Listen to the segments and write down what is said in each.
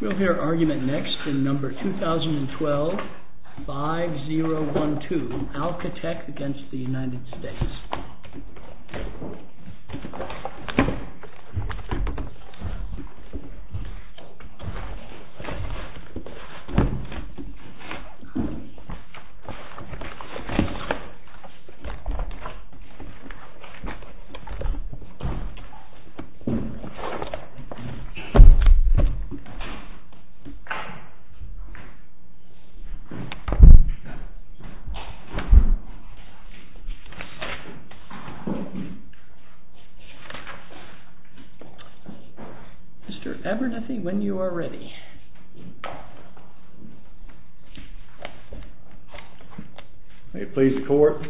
We'll hear argument next in number 2012, 5012, ALCATEC v. United States. Mr. Abernethy, when you are ready. May it please the Court,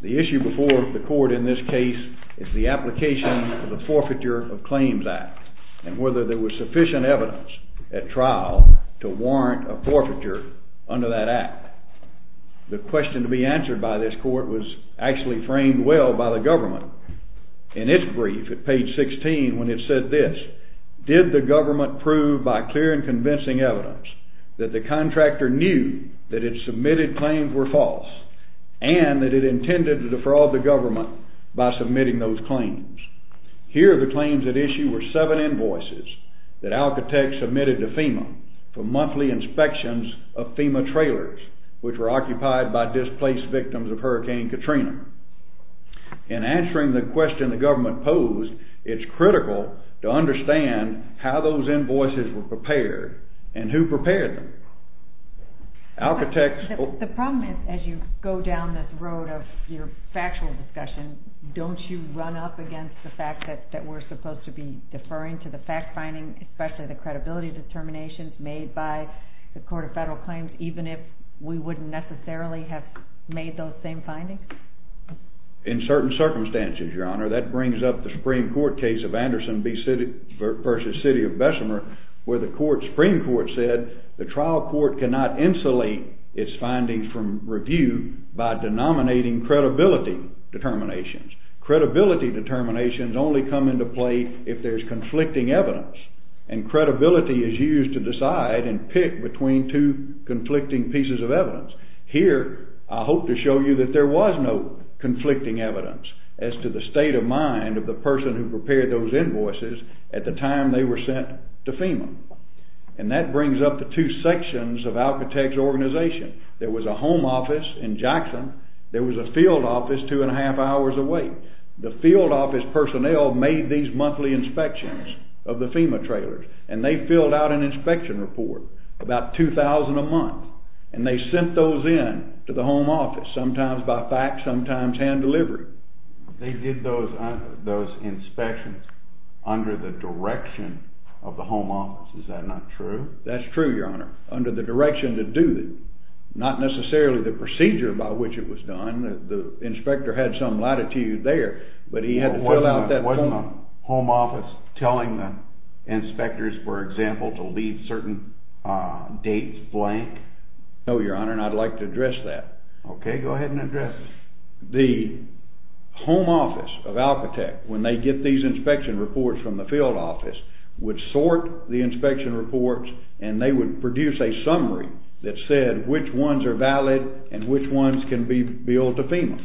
the issue before the Court in this case is the application of the Forfeiture of Claims Act and whether there was sufficient evidence at trial to warrant a forfeiture under that act. The question to be answered by this Court was actually framed well by the government. In its brief at page 16 when it said this, did the government prove by clear and convincing evidence that the contractor knew that its submitted claims were false and that it intended to defraud the government by submitting those claims. Here the claims at issue were seven invoices that ALCATEC submitted to FEMA for monthly inspections of FEMA trailers which were occupied by displaced victims of Hurricane Katrina. In answering the question the government posed, it's critical to understand how those invoices were prepared and who prepared them. The problem is as you go down this road of your factual discussion, don't you run up against the fact that we're supposed to be deferring to the fact finding, especially the credibility determinations made by the Court of Federal Claims even if we wouldn't necessarily have made those same findings? In certain circumstances, Your Honor. That brings up the Supreme Court case of Anderson v. City of Bessemer where the Supreme Court said the trial court cannot insulate its findings from review by denominating credibility determinations. Credibility determinations only come into play if there's conflicting evidence and credibility is used to decide and pick between two conflicting pieces of evidence. Here I hope to show you that there was no conflicting evidence as to the state of mind of the person who prepared those invoices at the time they were sent to FEMA. And that brings up the two sections of Alcatel's organization. There was a home office in Jackson. There was a field office two and a half hours away. The field office personnel made these monthly inspections of the FEMA trailers and they filled out an inspection report, about 2,000 a month, and they sent those in to the home office, sometimes by fax, sometimes hand-delivered. They did those inspections under the direction of the home office. Is that not true? That's true, Your Honor, under the direction to do it. Not necessarily the procedure by which it was done. The inspector had some latitude there, but he had to fill out that form. Wasn't the home office telling the inspectors, for example, to leave certain dates blank? No, Your Honor, and I'd like to address that. Okay, go ahead and address it. The home office of Alcatel, when they get these inspection reports from the field office, would sort the inspection reports and they would produce a summary that said which ones are valid and which ones can be billed to FEMA.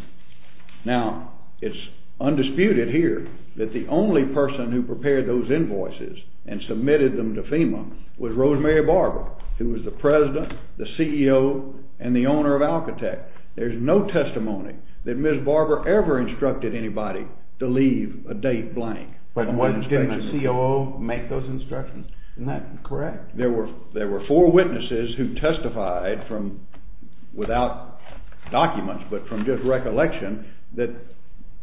Now, it's undisputed here that the only person who prepared those invoices and submitted them to FEMA was Rosemary Barber, who was the president, the CEO, and the owner of Alcatel. There's no testimony that Ms. Barber ever instructed anybody to leave a date blank. But didn't the COO make those instructions? Isn't that correct? There were four witnesses who testified without documents but from just recollection that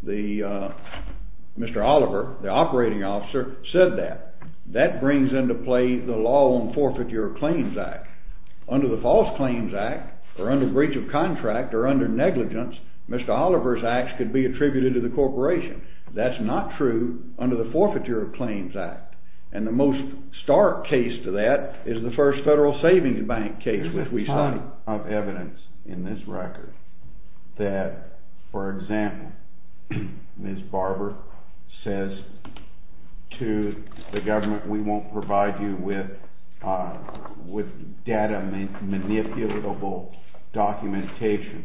Mr. Oliver, the operating officer, said that. That brings into play the Law on Forfeiture of Claims Act. Under the False Claims Act or under breach of contract or under negligence, Mr. Oliver's acts could be attributed to the corporation. That's not true under the Forfeiture of Claims Act, and the most stark case to that is the first Federal Savings Bank case which we saw. There's a lot of evidence in this record that, for example, Ms. Barber says to the government, we won't provide you with data manipulatable documentation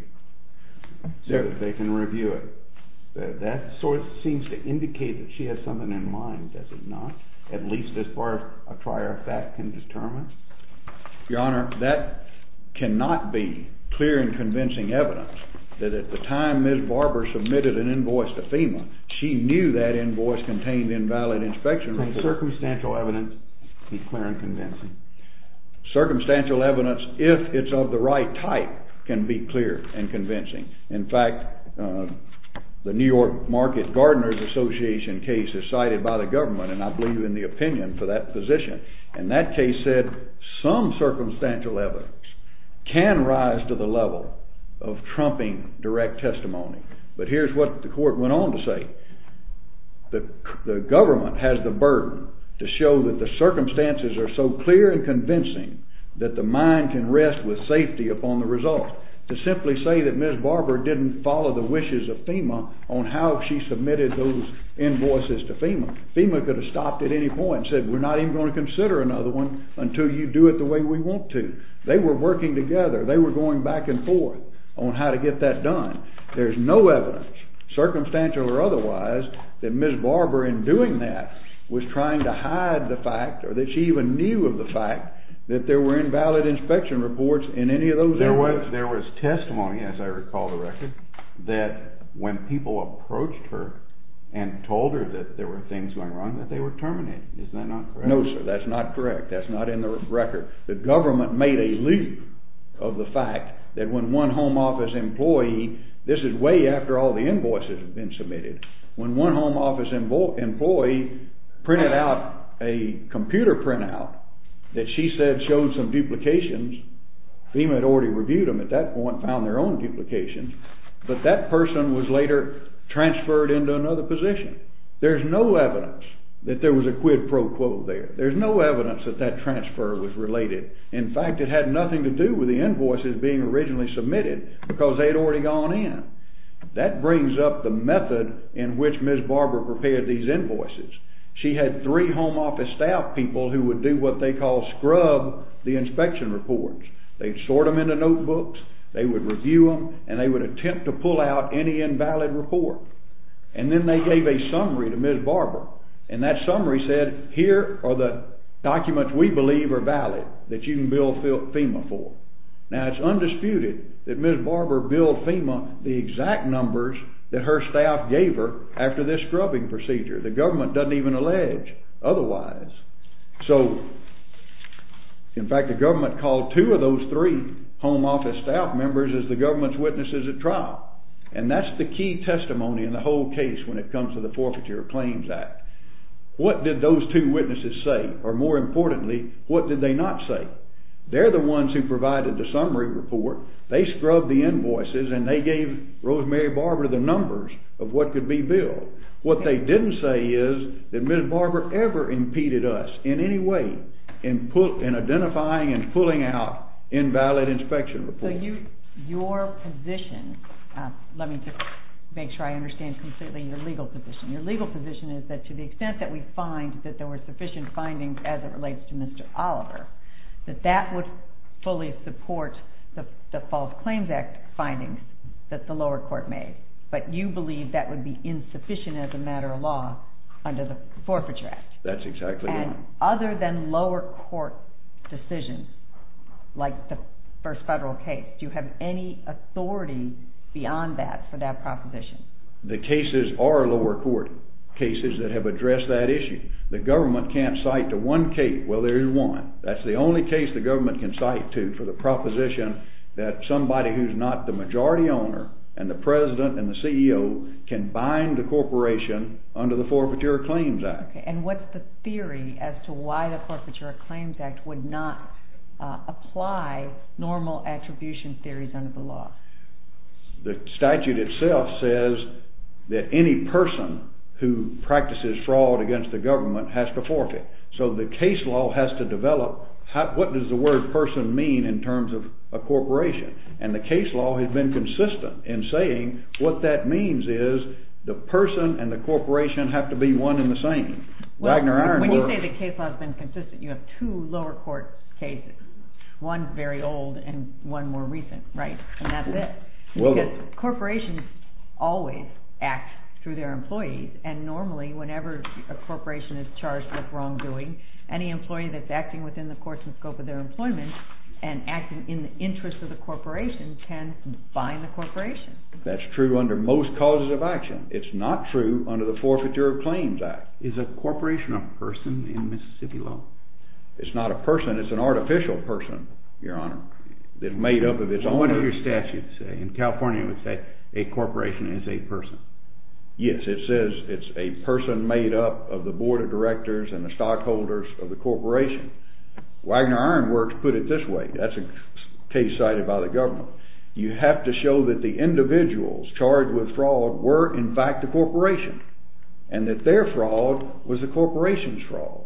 so that they can review it. That sort of seems to indicate that she has something in mind, does it not, at least as far as a prior fact can determine? Your Honor, that cannot be clear and convincing evidence that at the time Ms. Barber submitted an invoice to FEMA, she knew that invoice contained invalid inspection records. Can circumstantial evidence be clear and convincing? Circumstantial evidence, if it's of the right type, can be clear and convincing. In fact, the New York Market Gardeners Association case is cited by the government, and I believe in the opinion for that position, and that case said some circumstantial evidence can rise to the level of trumping direct testimony. But here's what the court went on to say. The government has the burden to show that the circumstances are so clear and convincing that the mind can rest with safety upon the results. To simply say that Ms. Barber didn't follow the wishes of FEMA on how she submitted those invoices to FEMA. FEMA could have stopped at any point and said, we're not even going to consider another one until you do it the way we want to. They were working together. They were going back and forth on how to get that done. There's no evidence, circumstantial or otherwise, that Ms. Barber in doing that was trying to hide the fact, or that she even knew of the fact, that there were invalid inspection reports in any of those invoices. There was testimony, as I recall the record, that when people approached her and told her that there were things going wrong, that they were terminating. Is that not correct? No, sir, that's not correct. That's not in the record. The government made a loop of the fact that when one home office employee, this is way after all the invoices had been submitted, when one home office employee printed out a computer printout that she said showed some duplications, FEMA had already reviewed them at that point, and found their own duplications, but that person was later transferred into another position. There's no evidence that there was a quid pro quo there. There's no evidence that that transfer was related. In fact, it had nothing to do with the invoices being originally submitted because they had already gone in. That brings up the method in which Ms. Barber prepared these invoices. She had three home office staff people who would do what they call scrub the inspection reports. They'd sort them into notebooks, they would review them, and they would attempt to pull out any invalid report. And then they gave a summary to Ms. Barber, and that summary said here are the documents we believe are valid that you can bill FEMA for. Now, it's undisputed that Ms. Barber billed FEMA the exact numbers that her staff gave her after this scrubbing procedure. The government doesn't even allege otherwise. So, in fact, the government called two of those three home office staff members as the government's witnesses at trial, and that's the key testimony in the whole case when it comes to the Forfeiture Claims Act. What did those two witnesses say? Or more importantly, what did they not say? They're the ones who provided the summary report. They scrubbed the invoices, and they gave Rosemary Barber the numbers of what could be billed. What they didn't say is that Ms. Barber ever impeded us in any way in identifying and pulling out invalid inspection reports. So your position, let me just make sure I understand completely your legal position. Your legal position is that to the extent that we find that there were sufficient findings as it relates to Mr. Oliver, that that would fully support the False Claims Act findings that the lower court made. But you believe that would be insufficient as a matter of law under the Forfeiture Act. That's exactly right. And other than lower court decisions, like the first federal case, do you have any authority beyond that for that proposition? The cases are lower court cases that have addressed that issue. The government can't cite to one case. Well, there is one. That's the only case the government can cite to for the proposition that somebody who's not the majority owner and the president and the CEO can bind the corporation under the Forfeiture Claims Act. And what's the theory as to why the Forfeiture Claims Act would not apply normal attribution theories under the law? The statute itself says that any person who practices fraud against the government has to forfeit. So the case law has to develop. What does the word person mean in terms of a corporation? And the case law has been consistent in saying what that means is the person and the corporation have to be one and the same. When you say the case law has been consistent, you have two lower court cases, one very old and one more recent, right? And that's it. Because corporations always act through their employees, and normally whenever a corporation is charged with wrongdoing, any employee that's acting within the course and scope of their employment and acting in the interest of the corporation can bind the corporation. That's true under most causes of action. It's not true under the Forfeiture Claims Act. Is a corporation a person in Mississippi law? It's not a person. It's an artificial person, Your Honor. It's made up of its own... So what does your statute say? In California it would say a corporation is a person. Yes, it says it's a person made up of the board of directors and the stockholders of the corporation. Wagner Iron Works put it this way. That's a case cited by the government. You have to show that the individuals charged with fraud were in fact a corporation and that their fraud was a corporation's fraud.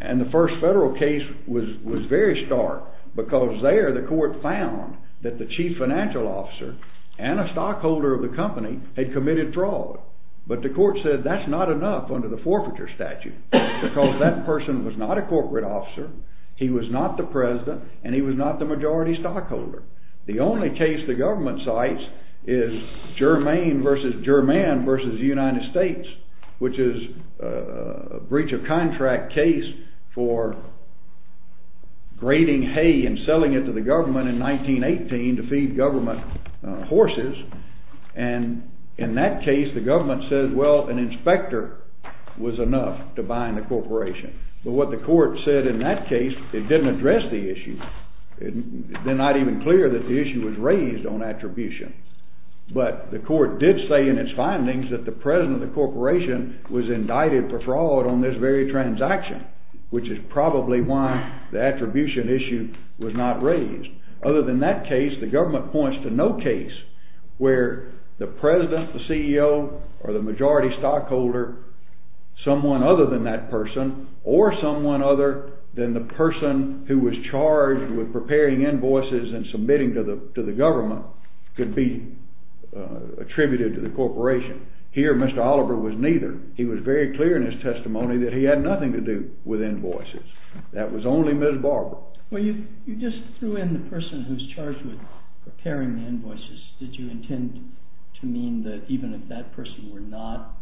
And the first federal case was very stark because there the court found that the chief financial officer and a stockholder of the company had committed fraud. But the court said that's not enough under the forfeiture statute because that person was not a corporate officer, he was not the president, and he was not the majority stockholder. The only case the government cites is Germain v. German v. United States, which is a breach of contract case for grading hay and selling it to the government in 1918 to feed government horses. And in that case the government says, well, an inspector was enough to bind the corporation. But what the court said in that case, it didn't address the issue. It's not even clear that the issue was raised on attribution. But the court did say in its findings that the president of the corporation was indicted for fraud on this very transaction, which is probably why the attribution issue was not raised. Other than that case, the government points to no case where the president, the CEO, or the majority stockholder, someone other than that person or someone other than the person who was charged with preparing invoices and submitting to the government, could be attributed to the corporation. Here Mr. Oliver was neither. He was very clear in his testimony that he had nothing to do with invoices. That was only Ms. Barber. Well, you just threw in the person who's charged with preparing the invoices. Did you intend to mean that even if that person were not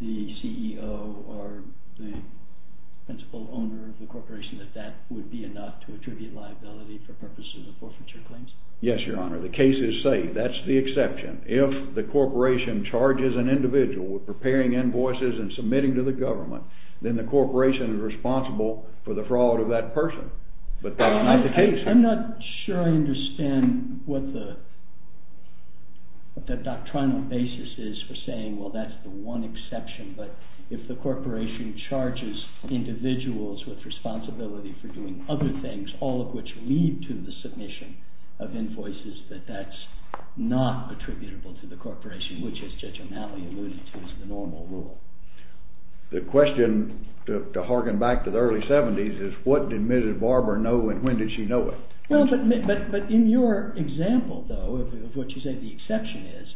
the CEO or the principal owner of the corporation, that that would be enough to attribute liability for purposes of forfeiture claims? Yes, Your Honor. The case is safe. That's the exception. If the corporation charges an individual with preparing invoices and submitting to the government, then the corporation is responsible for the fraud of that person. But that's not the case. I'm not sure I understand what the doctrinal basis is for saying, well, that's the one exception. But if the corporation charges individuals with responsibility for doing other things, all of which lead to the submission of invoices, that that's not attributable to the corporation, which as Judge O'Malley alluded to is the normal rule. The question, to hearken back to the early 70s, is what did Mrs. Barber know and when did she know it? But in your example, though, of what you say the exception is,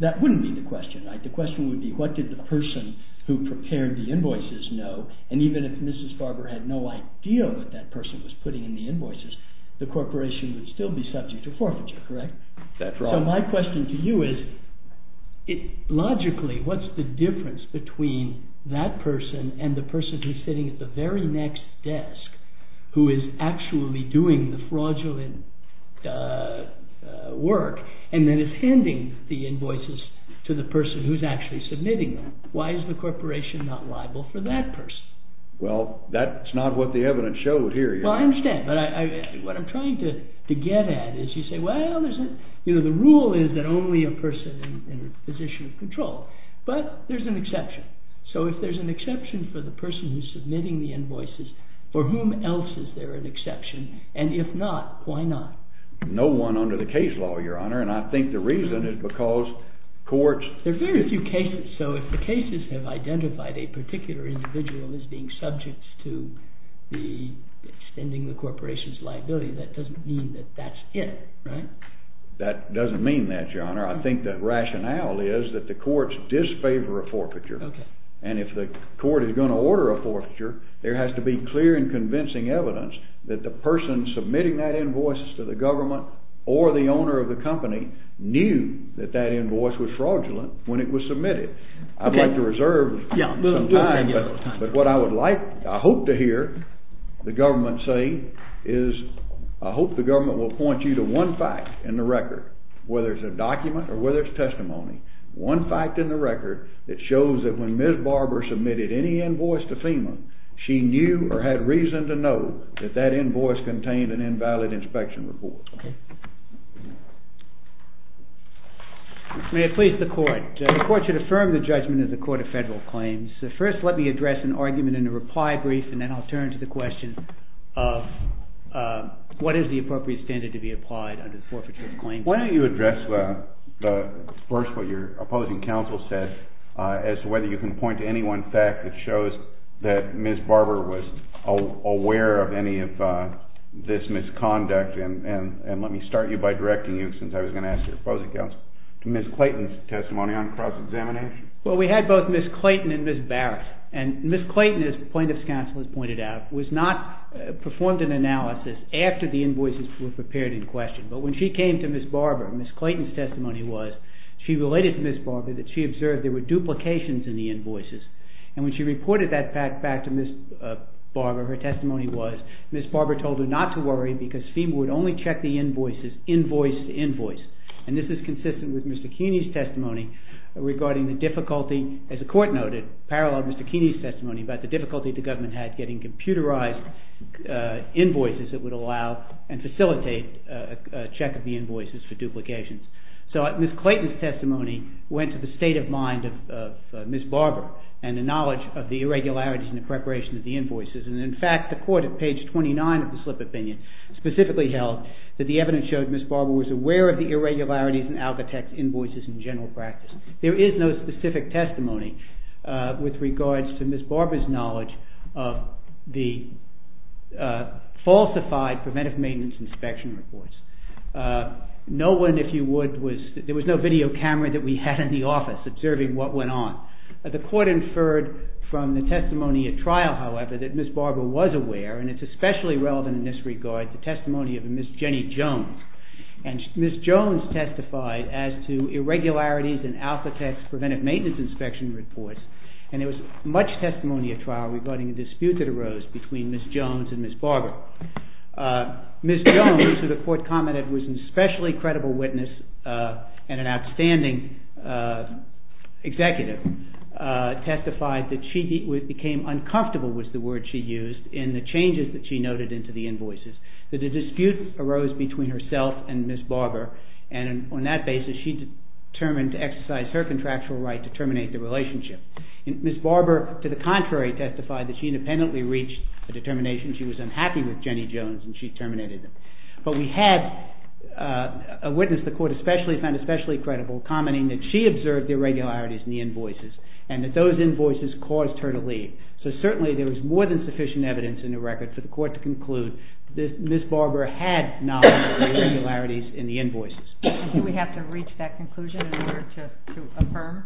that wouldn't be the question, right? The question would be what did the person who prepared the invoices know, and even if Mrs. Barber had no idea what that person was putting in the invoices, the corporation would still be subject to forfeiture, correct? So my question to you is, logically, what's the difference between that person and the person who's sitting at the very next desk who is actually doing the fraudulent work and then is handing the invoices to the person who's actually submitting them? Why is the corporation not liable for that person? Well, that's not what the evidence showed here. Well, I understand, but what I'm trying to get at is you say, well, the rule is that only a person in a position of control, but there's an exception. So if there's an exception for the person who's submitting the invoices, for whom else is there an exception? And if not, why not? No one under the case law, Your Honor, and I think the reason is because courts... There are very few cases. So if the cases have identified a particular individual as being subject to extending the corporation's liability, that doesn't mean that that's it, right? That doesn't mean that, Your Honor. I think the rationale is that the courts disfavor a forfeiture, and if the court is going to order a forfeiture, there has to be clear and convincing evidence that the person submitting that invoice to the government or the owner of the company knew that that invoice was fraudulent when it was submitted. I'd like to reserve some time, but what I hope to hear the government say is I hope the government will point you to one fact in the record, whether it's a document or whether it's testimony, one fact in the record that shows that when Ms. Barber submitted any invoice to FEMA, she knew or had reason to know that that invoice contained an invalid inspection report. Okay. May it please the court. The court should affirm the judgment of the Court of Federal Claims. First, let me address an argument in a reply brief, and then I'll turn to the question of what is the appropriate standard to be applied under the Forfeiture of Claims Act. Why don't you address first what your opposing counsel said as to whether you can point to any one fact that shows that Ms. Barber was aware of any of this misconduct, and let me start you by directing you, since I was going to ask your opposing counsel, to Ms. Clayton's testimony on cross-examination. Well, we had both Ms. Clayton and Ms. Barrett, and Ms. Clayton, as plaintiff's counsel has pointed out, was not...performed an analysis after the invoices were prepared in question, but when she came to Ms. Barber, Ms. Clayton's testimony was she related to Ms. Barber that she observed there were duplications in the invoices, and when she reported that fact back to Ms. Barber, her testimony was Ms. Barber told her not to worry because FEMA would only check the invoices, invoice to invoice, and this is consistent with Mr. Keeney's testimony regarding the difficulty, as the court noted, paralleled Mr. Keeney's testimony about the difficulty the government had getting computerized invoices that would allow and facilitate a check of the invoices for duplications. So Ms. Clayton's testimony went to the state of mind of Ms. Barber and the knowledge of the irregularities in the preparation of the invoices, and in fact, the court at page 29 of the slip opinion specifically held that the evidence showed Ms. Barber was aware of the irregularities in Algatex invoices in general practice. There is no specific testimony with regards to Ms. Barber's knowledge of the falsified preventive maintenance inspection reports. No one, if you would, was... There was no video camera that we had in the office observing what went on. The court inferred from the testimony at trial, however, that Ms. Barber was aware, and it's especially relevant in this regard, the testimony of Ms. Jenny Jones, and Ms. Jones testified as to irregularities in Algatex preventive maintenance inspection reports, and there was much testimony at trial regarding a dispute that arose between Ms. Jones and Ms. Barber. Ms. Jones, who the court commented was an especially credible witness and an outstanding executive, testified that she became uncomfortable, was the word she used, in the changes that she noted into the invoices, that a dispute arose between herself and Ms. Barber, and on that basis she determined to exercise her contractual right to terminate the relationship. Ms. Barber, to the contrary, testified that she independently reached a determination she was unhappy with Jenny Jones, and she terminated it. But we had a witness the court found especially credible commenting that she observed the irregularities in the invoices and that those invoices caused her to leave. So certainly there was more than sufficient evidence in the record for the court to conclude that Ms. Barber had knowledge of the irregularities in the invoices. And do we have to reach that conclusion in order to affirm?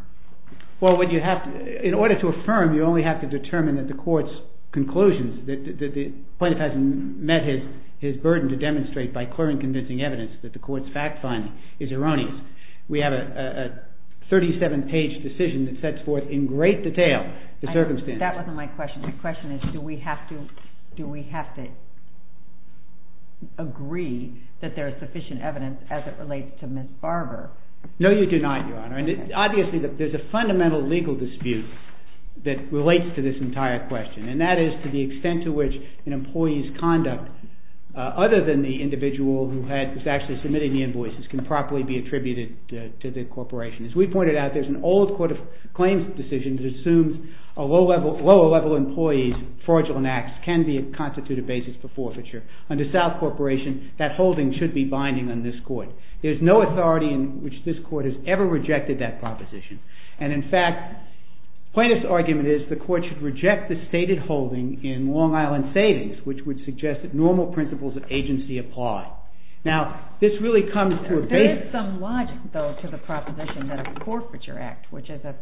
Well, in order to affirm, you only have to determine that the court's conclusions, that the plaintiff has met his burden to demonstrate by clearing convincing evidence that the court's fact-finding is erroneous. We have a 37-page decision that sets forth in great detail the circumstances. That wasn't my question. My question is, do we have to agree that there is sufficient evidence as it relates to Ms. Barber? No, you do not, Your Honor. Obviously, there's a fundamental legal dispute that relates to this entire question, and that is to the extent to which an employee's conduct, other than the individual who is actually submitting the invoices, can properly be attributed to the corporation. As we pointed out, there's an old court of claims decision that assumes a lower-level employee's fraudulent acts can constitute a basis for forfeiture. Under South Corporation, that holding should be binding on this court. There's no authority in which this court has ever rejected that proposition. And in fact, the plaintiff's argument is the court should reject the stated holding in Long Island Savings, which would suggest that normal principles of agency apply. Now, this really comes to a base... There is some logic, though, to the proposition that a forfeiture act, which is a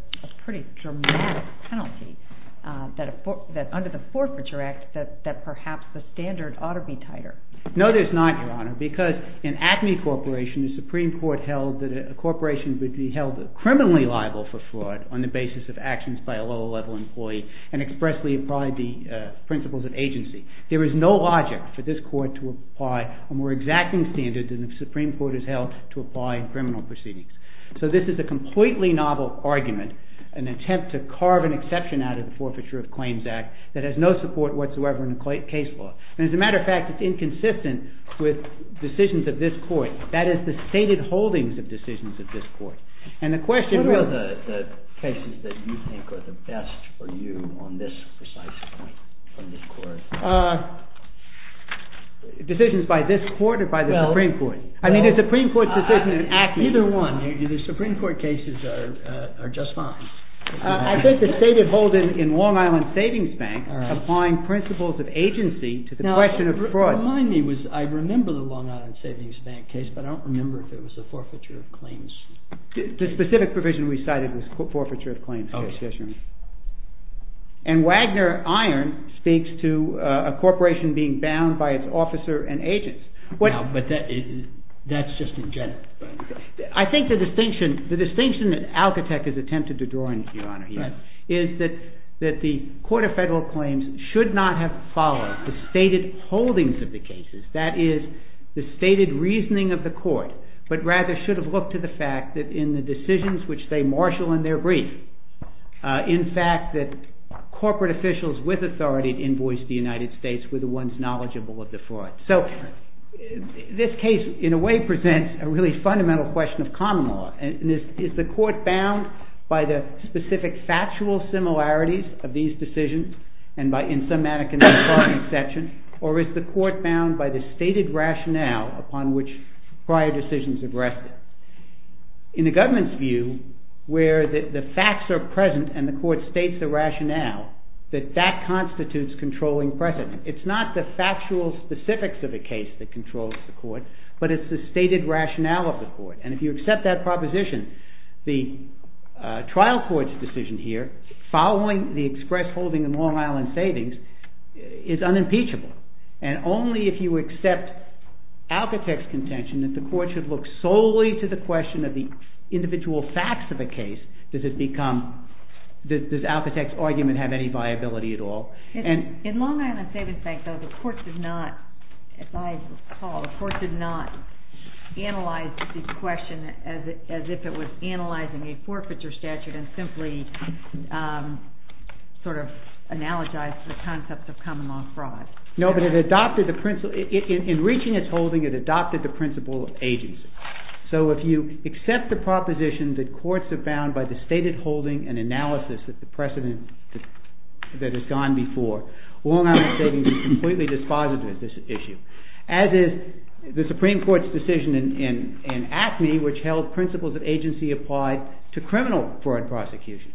pretty dramatic penalty, that under the forfeiture act, that perhaps the standard ought to be tighter. No, there's not, Your Honor, because in ACME Corporation, the Supreme Court held that a corporation would be held criminally liable for fraud on the basis of actions by a lower-level employee and expressly apply the principles of agency. There is no logic for this court to apply a more exacting standard than the Supreme Court has held to apply in criminal proceedings. So this is a completely novel argument, an attempt to carve an exception out of the Forfeiture of Claims Act that has no support whatsoever in the case law. And as a matter of fact, it's inconsistent with decisions of this court. That is, the stated holdings of decisions of this court. And the question... What are the cases that you think are the best for you on this precise point, on this court? Uh... Decisions by this court or by the Supreme Court? I mean, the Supreme Court's decision in ACME... Either one. The Supreme Court cases are just fine. I think the stated holdings in Long Island Savings Bank are applying principles of agency to the question of fraud. I remember the Long Island Savings Bank case, but I don't remember if it was the Forfeiture of Claims. The specific provision we cited was the Forfeiture of Claims case, yes, Your Honor. And Wagner Iron speaks to a corporation being bound by its officer and agents. Now, but that's just a general... I think the distinction... The distinction that Alcatecht has attempted to draw in, Your Honor, here, is that the Court of Federal Claims should not have followed the stated holdings of the cases. That is, the stated reasoning of the court, but rather should have looked to the fact that in the decisions which they marshal in their brief, in fact, that corporate officials with authority to invoice the United States were the ones knowledgeable of the fraud. So, this case, in a way, presents a really fundamental question of common law. Is the court bound by the specific factual similarities of these decisions and by, in some mannequins, the fraud exception, or is the court bound by the stated rationale upon which prior decisions have rested? In the government's view, where the facts are present and the court states the rationale, that that constitutes controlling precedent. It's not the factual specifics of the case that controls the court, but it's the stated rationale of the court. And if you accept that proposition, the trial court's decision here, following the express holding in Long Island Savings, is unimpeachable. And only if you accept Alcatecht's contention that the court should look solely to the question of the individual facts of a case does Alcatecht's argument have any viability at all. In Long Island Savings, though, the court did not, as I recall, the court did not analyze this question as if it was analyzing a forfeiture statute and simply sort of analogized the concept of common law fraud. No, but in reaching its holding, it adopted the principle of agency. So, if you accept the proposition that courts are bound by the stated holding and analysis that the precedent that has gone before, Long Island Savings is completely dispositive of this issue. As is the Supreme Court's decision in Acme, which held principles of agency applied to criminal foreign prosecution.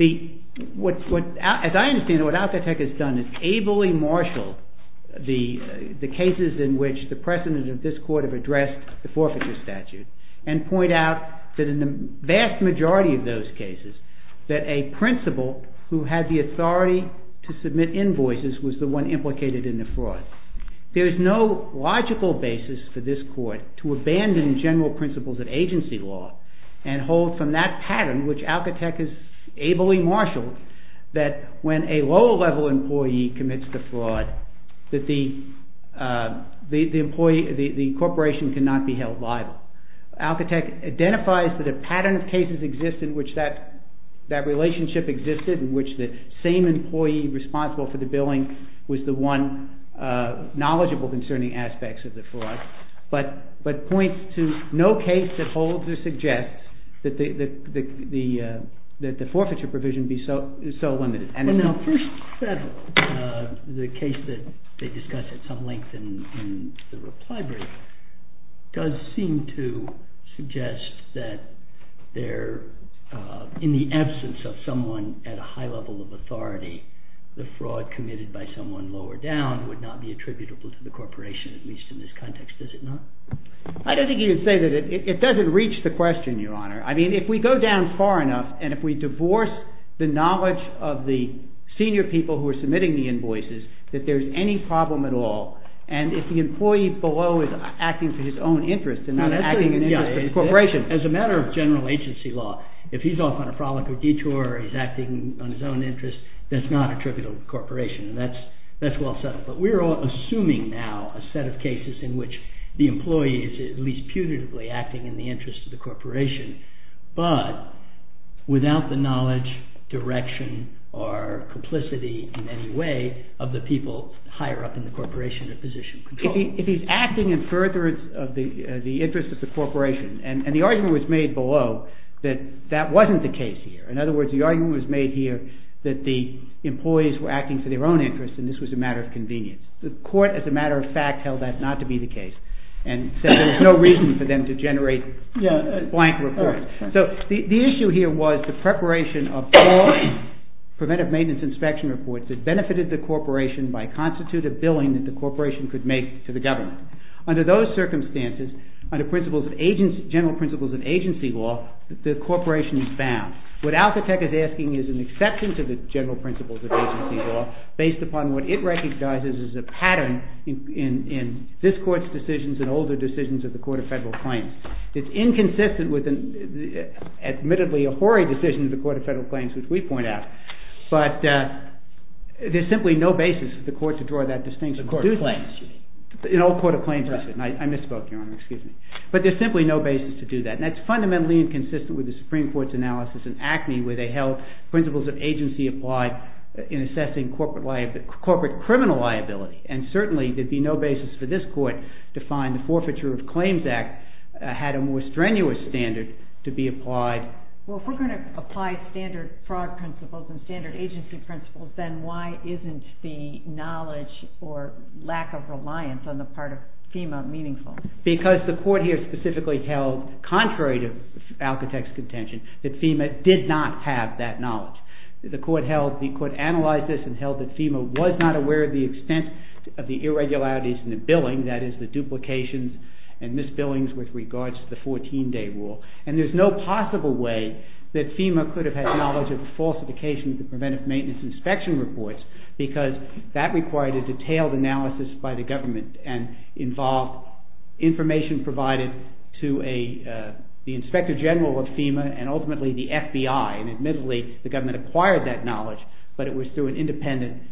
As I understand it, what Alcatecht has done is ably marshal the cases in which the precedent of this court have addressed the forfeiture statute and point out that in the vast majority of those cases that a principal who had the authority to submit invoices was the one implicated in the fraud. There is no logical basis for this court to abandon general principles of agency law and hold from that pattern, which Alcatecht has ably marshaled, that when a lower-level employee commits the fraud that the corporation cannot be held liable. Alcatecht identifies that a pattern of cases exists in which that relationship existed, in which the same employee responsible for the billing was the one knowledgeable concerning aspects of the fraud, but points to no case that holds or suggests that the forfeiture provision be so limited. Now, First Seven, the case that they discuss at some length in the reply brief, does seem to suggest that in the absence of someone at a high level of authority, the fraud committed by someone lower down would not be attributable to the corporation, at least in this context, does it not? I don't think you can say that. It doesn't reach the question, Your Honor. I mean, if we go down far enough, and if we divorce the knowledge of the senior people who are submitting the invoices, that there's any problem at all, and if the employee below is acting for his own interest and not acting in interest of the corporation. As a matter of general agency law, if he's off on a frolic or detour, or he's acting on his own interest, that's not attributable to the corporation, and that's well settled. But we're all assuming now a set of cases in which the employee is at least punitively acting in the interest of the corporation, but without the knowledge, direction, or complicity in any way of the people higher up in the corporation or position. If he's acting in furtherance of the interest of the corporation, and the argument was made below that that wasn't the case here. In other words, the argument was made here that the employees were acting for their own interest and this was a matter of convenience. The court, as a matter of fact, held that not to be the case, and said there was no reason for them to generate blank reports. So the issue here was the preparation of all preventive maintenance inspection reports that benefited the corporation by constitutive billing that the corporation could make to the government. Under those circumstances, under general principles of agency law, the corporation is bound. What Alcatech is asking is an exception to the general principles of agency law based upon what it recognizes as a pattern in this court's decisions and older decisions of the Court of Federal Claims. It's inconsistent with, admittedly, a hoary decision of the Court of Federal Claims, which we point out, but there's simply no basis for the court to draw that distinction. The Court of Claims. An old Court of Claims decision. I misspoke, Your Honor, excuse me. But there's simply no basis to do that. And that's fundamentally inconsistent with the Supreme Court's analysis in Acme where they held principles of agency applied in assessing corporate criminal liability. And certainly there'd be no basis for this court to find the Forfeiture of Claims Act had a more strenuous standard to be applied. Well, if we're going to apply standard fraud principles and standard agency principles, then why isn't the knowledge or lack of reliance on the part of FEMA meaningful? Because the court here specifically held, contrary to Alcatex's contention, that FEMA did not have that knowledge. The court held, the court analyzed this and held that FEMA was not aware of the extent of the irregularities in the billing, that is, the duplications and misbillings with regards to the 14-day rule. And there's no possible way that FEMA could have had knowledge of the falsification of the preventive maintenance inspection reports because that required a detailed analysis by the government and involved information provided to the Inspector General of FEMA and ultimately the FBI. And admittedly, the government acquired that knowledge, but it was through an independent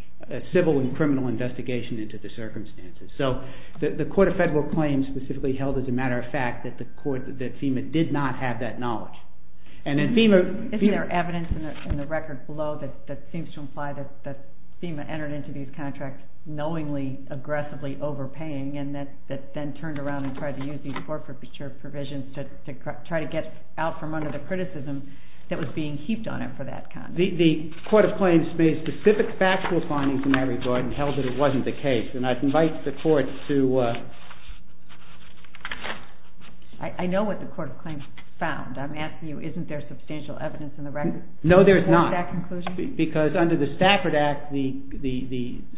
civil and criminal investigation into the circumstances. So the Court of Federal Claims specifically held as a matter of fact that FEMA did not have that knowledge. Isn't there evidence in the record below that seems to imply that FEMA entered into these contracts knowingly, aggressively overpaying and that then turned around and tried to use these corporate provisions to try to get out from under the criticism that was being heaped on it for that conduct? The Court of Claims made specific factual findings in that regard and held that it wasn't the case. And I'd invite the Court to... I know what the Court of Claims found. I'm asking you, isn't there substantial evidence in the record? No, there's not. Because under the Stafford Act, the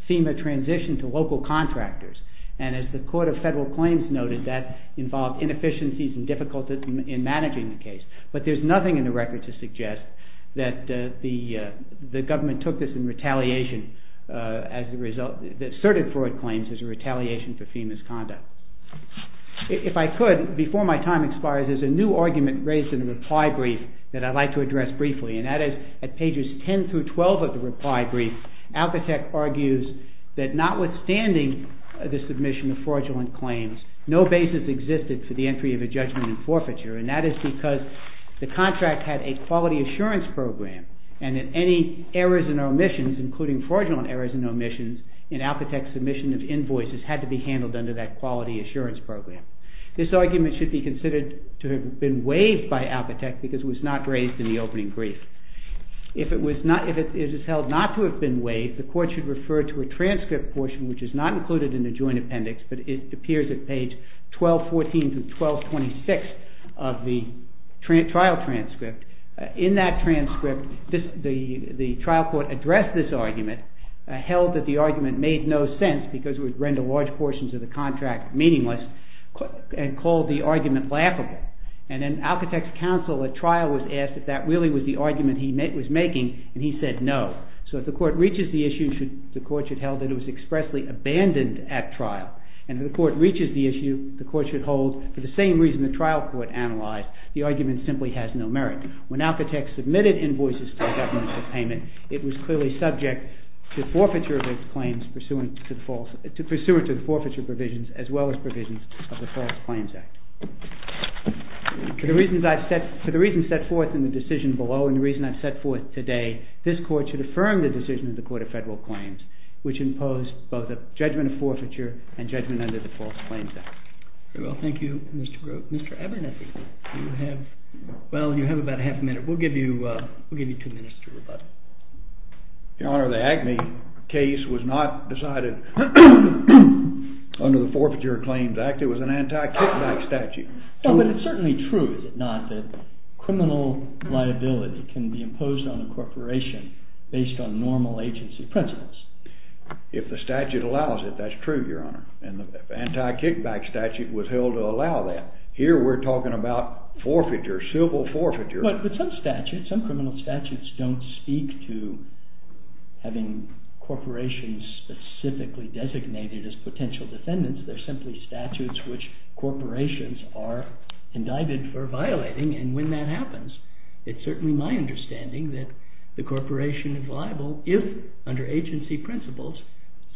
FEMA transitioned to local contractors and as the Court of Federal Claims noted, that involved inefficiencies and difficulties in managing the case. But there's nothing in the record to suggest that the government took this in retaliation that asserted fraud claims as a retaliation for FEMA's conduct. If I could, before my time expires, there's a new argument raised in the reply brief that I'd like to address briefly. And that is, at pages 10 through 12 of the reply brief, Alcatech argues that notwithstanding the submission of fraudulent claims, no basis existed for the entry of a judgment in forfeiture and that is because the contract had a quality assurance program and that any errors and omissions, including fraudulent errors and omissions, in Alcatech's submission of invoices had to be handled under that quality assurance program. This argument should be considered to have been waived by Alcatech because it was not raised in the opening brief. If it is held not to have been waived, the Court should refer to a transcript portion which is not included in the joint appendix but it appears at page 1214 through 1226 of the trial transcript. In that transcript, the trial court addressed this argument, held that the argument made no sense because it would render large portions of the contract meaningless, and called the argument laughable. And in Alcatech's counsel, a trial was asked if that really was the argument he was making and he said no. So if the Court reaches the issue, the Court should hold that it was expressly abandoned at trial and if the Court reaches the issue, the Court should hold, for the same reason the trial court analyzed, the argument simply has no merit. When Alcatech submitted invoices to the government for payment, it was clearly subject to forfeiture of its claims pursuant to the forfeiture provisions as well as provisions of the False Claims Act. For the reasons set forth in the decision below and the reason I've set forth today, this Court should affirm the decision of the Court of Federal Claims which imposed both a judgment of forfeiture and judgment under the False Claims Act. Very well, thank you Mr. Grote. Mr. Abernethy, you have about half a minute. We'll give you two minutes to rebut. Your Honor, the Agne case was not decided under the Forfeiture Claims Act. It was an anti-kickback statute. But it's certainly true, is it not, that criminal liability can be imposed on a corporation based on normal agency principles. If the statute allows it, that's true, Your Honor, and the anti-kickback statute was held to allow that. Here we're talking about forfeiture, civil forfeiture. But some criminal statutes don't speak to having corporations specifically designated as potential defendants. They're simply statutes which corporations are indicted for violating, and when that happens, it's certainly my understanding that the corporation is liable if, under agency principles,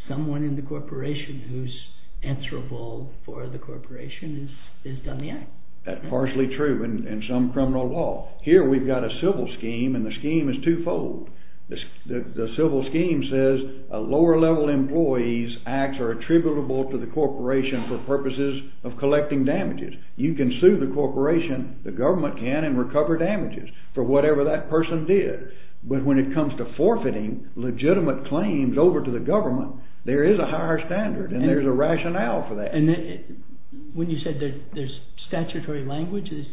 someone in the corporation who's answerable for the corporation has done the act. That's partially true in some criminal law. Here we've got a civil scheme, and the scheme is twofold. The civil scheme says a lower-level employee's acts are attributable to the corporation for purposes of collecting damages. You can sue the corporation, the government can, and recover damages for whatever that person did. But when it comes to forfeiting legitimate claims over to the government, there is a higher standard, and there's a rationale for that. And when you said there's statutory language, is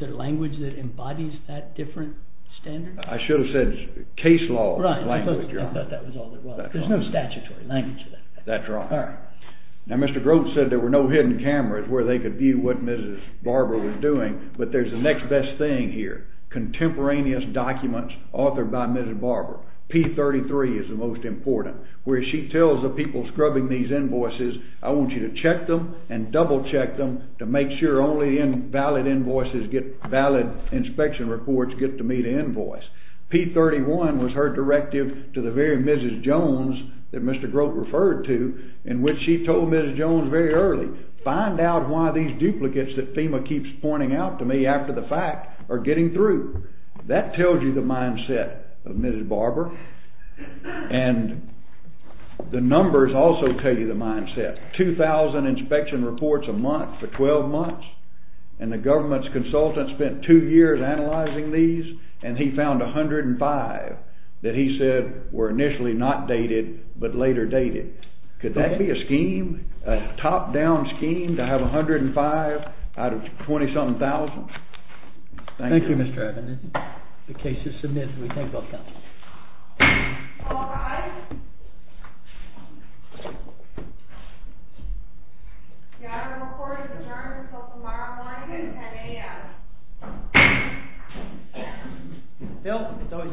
there language that embodies that different standard? I should have said case law language, Your Honor. Right, I thought that was all there was. There's no statutory language for that. That's right. Now, Mr. Groats said there were no hidden cameras where they could view what Mrs. Barber was doing, but there's the next best thing here, contemporaneous documents authored by Mrs. Barber. P33 is the most important, where she tells the people scrubbing these invoices, I want you to check them and double-check them to make sure only valid inspection reports get to meet an invoice. P31 was her directive to the very Mrs. Jones that Mr. Groats referred to, in which she told Mrs. Jones very early, find out why these duplicates that FEMA keeps pointing out to me after the fact are getting through. That tells you the mindset of Mrs. Barber, and the numbers also tell you the mindset. She had 2,000 inspection reports a month for 12 months, and the government's consultant spent two years analyzing these, and he found 105 that he said were initially not dated but later dated. Could that be a scheme, a top-down scheme, to have 105 out of 20-something thousand? Thank you. Thank you, Mr. Evans. The case is submitted. We thank all counsel. All rise. The honorable court is adjourned until tomorrow morning at 10 a.m.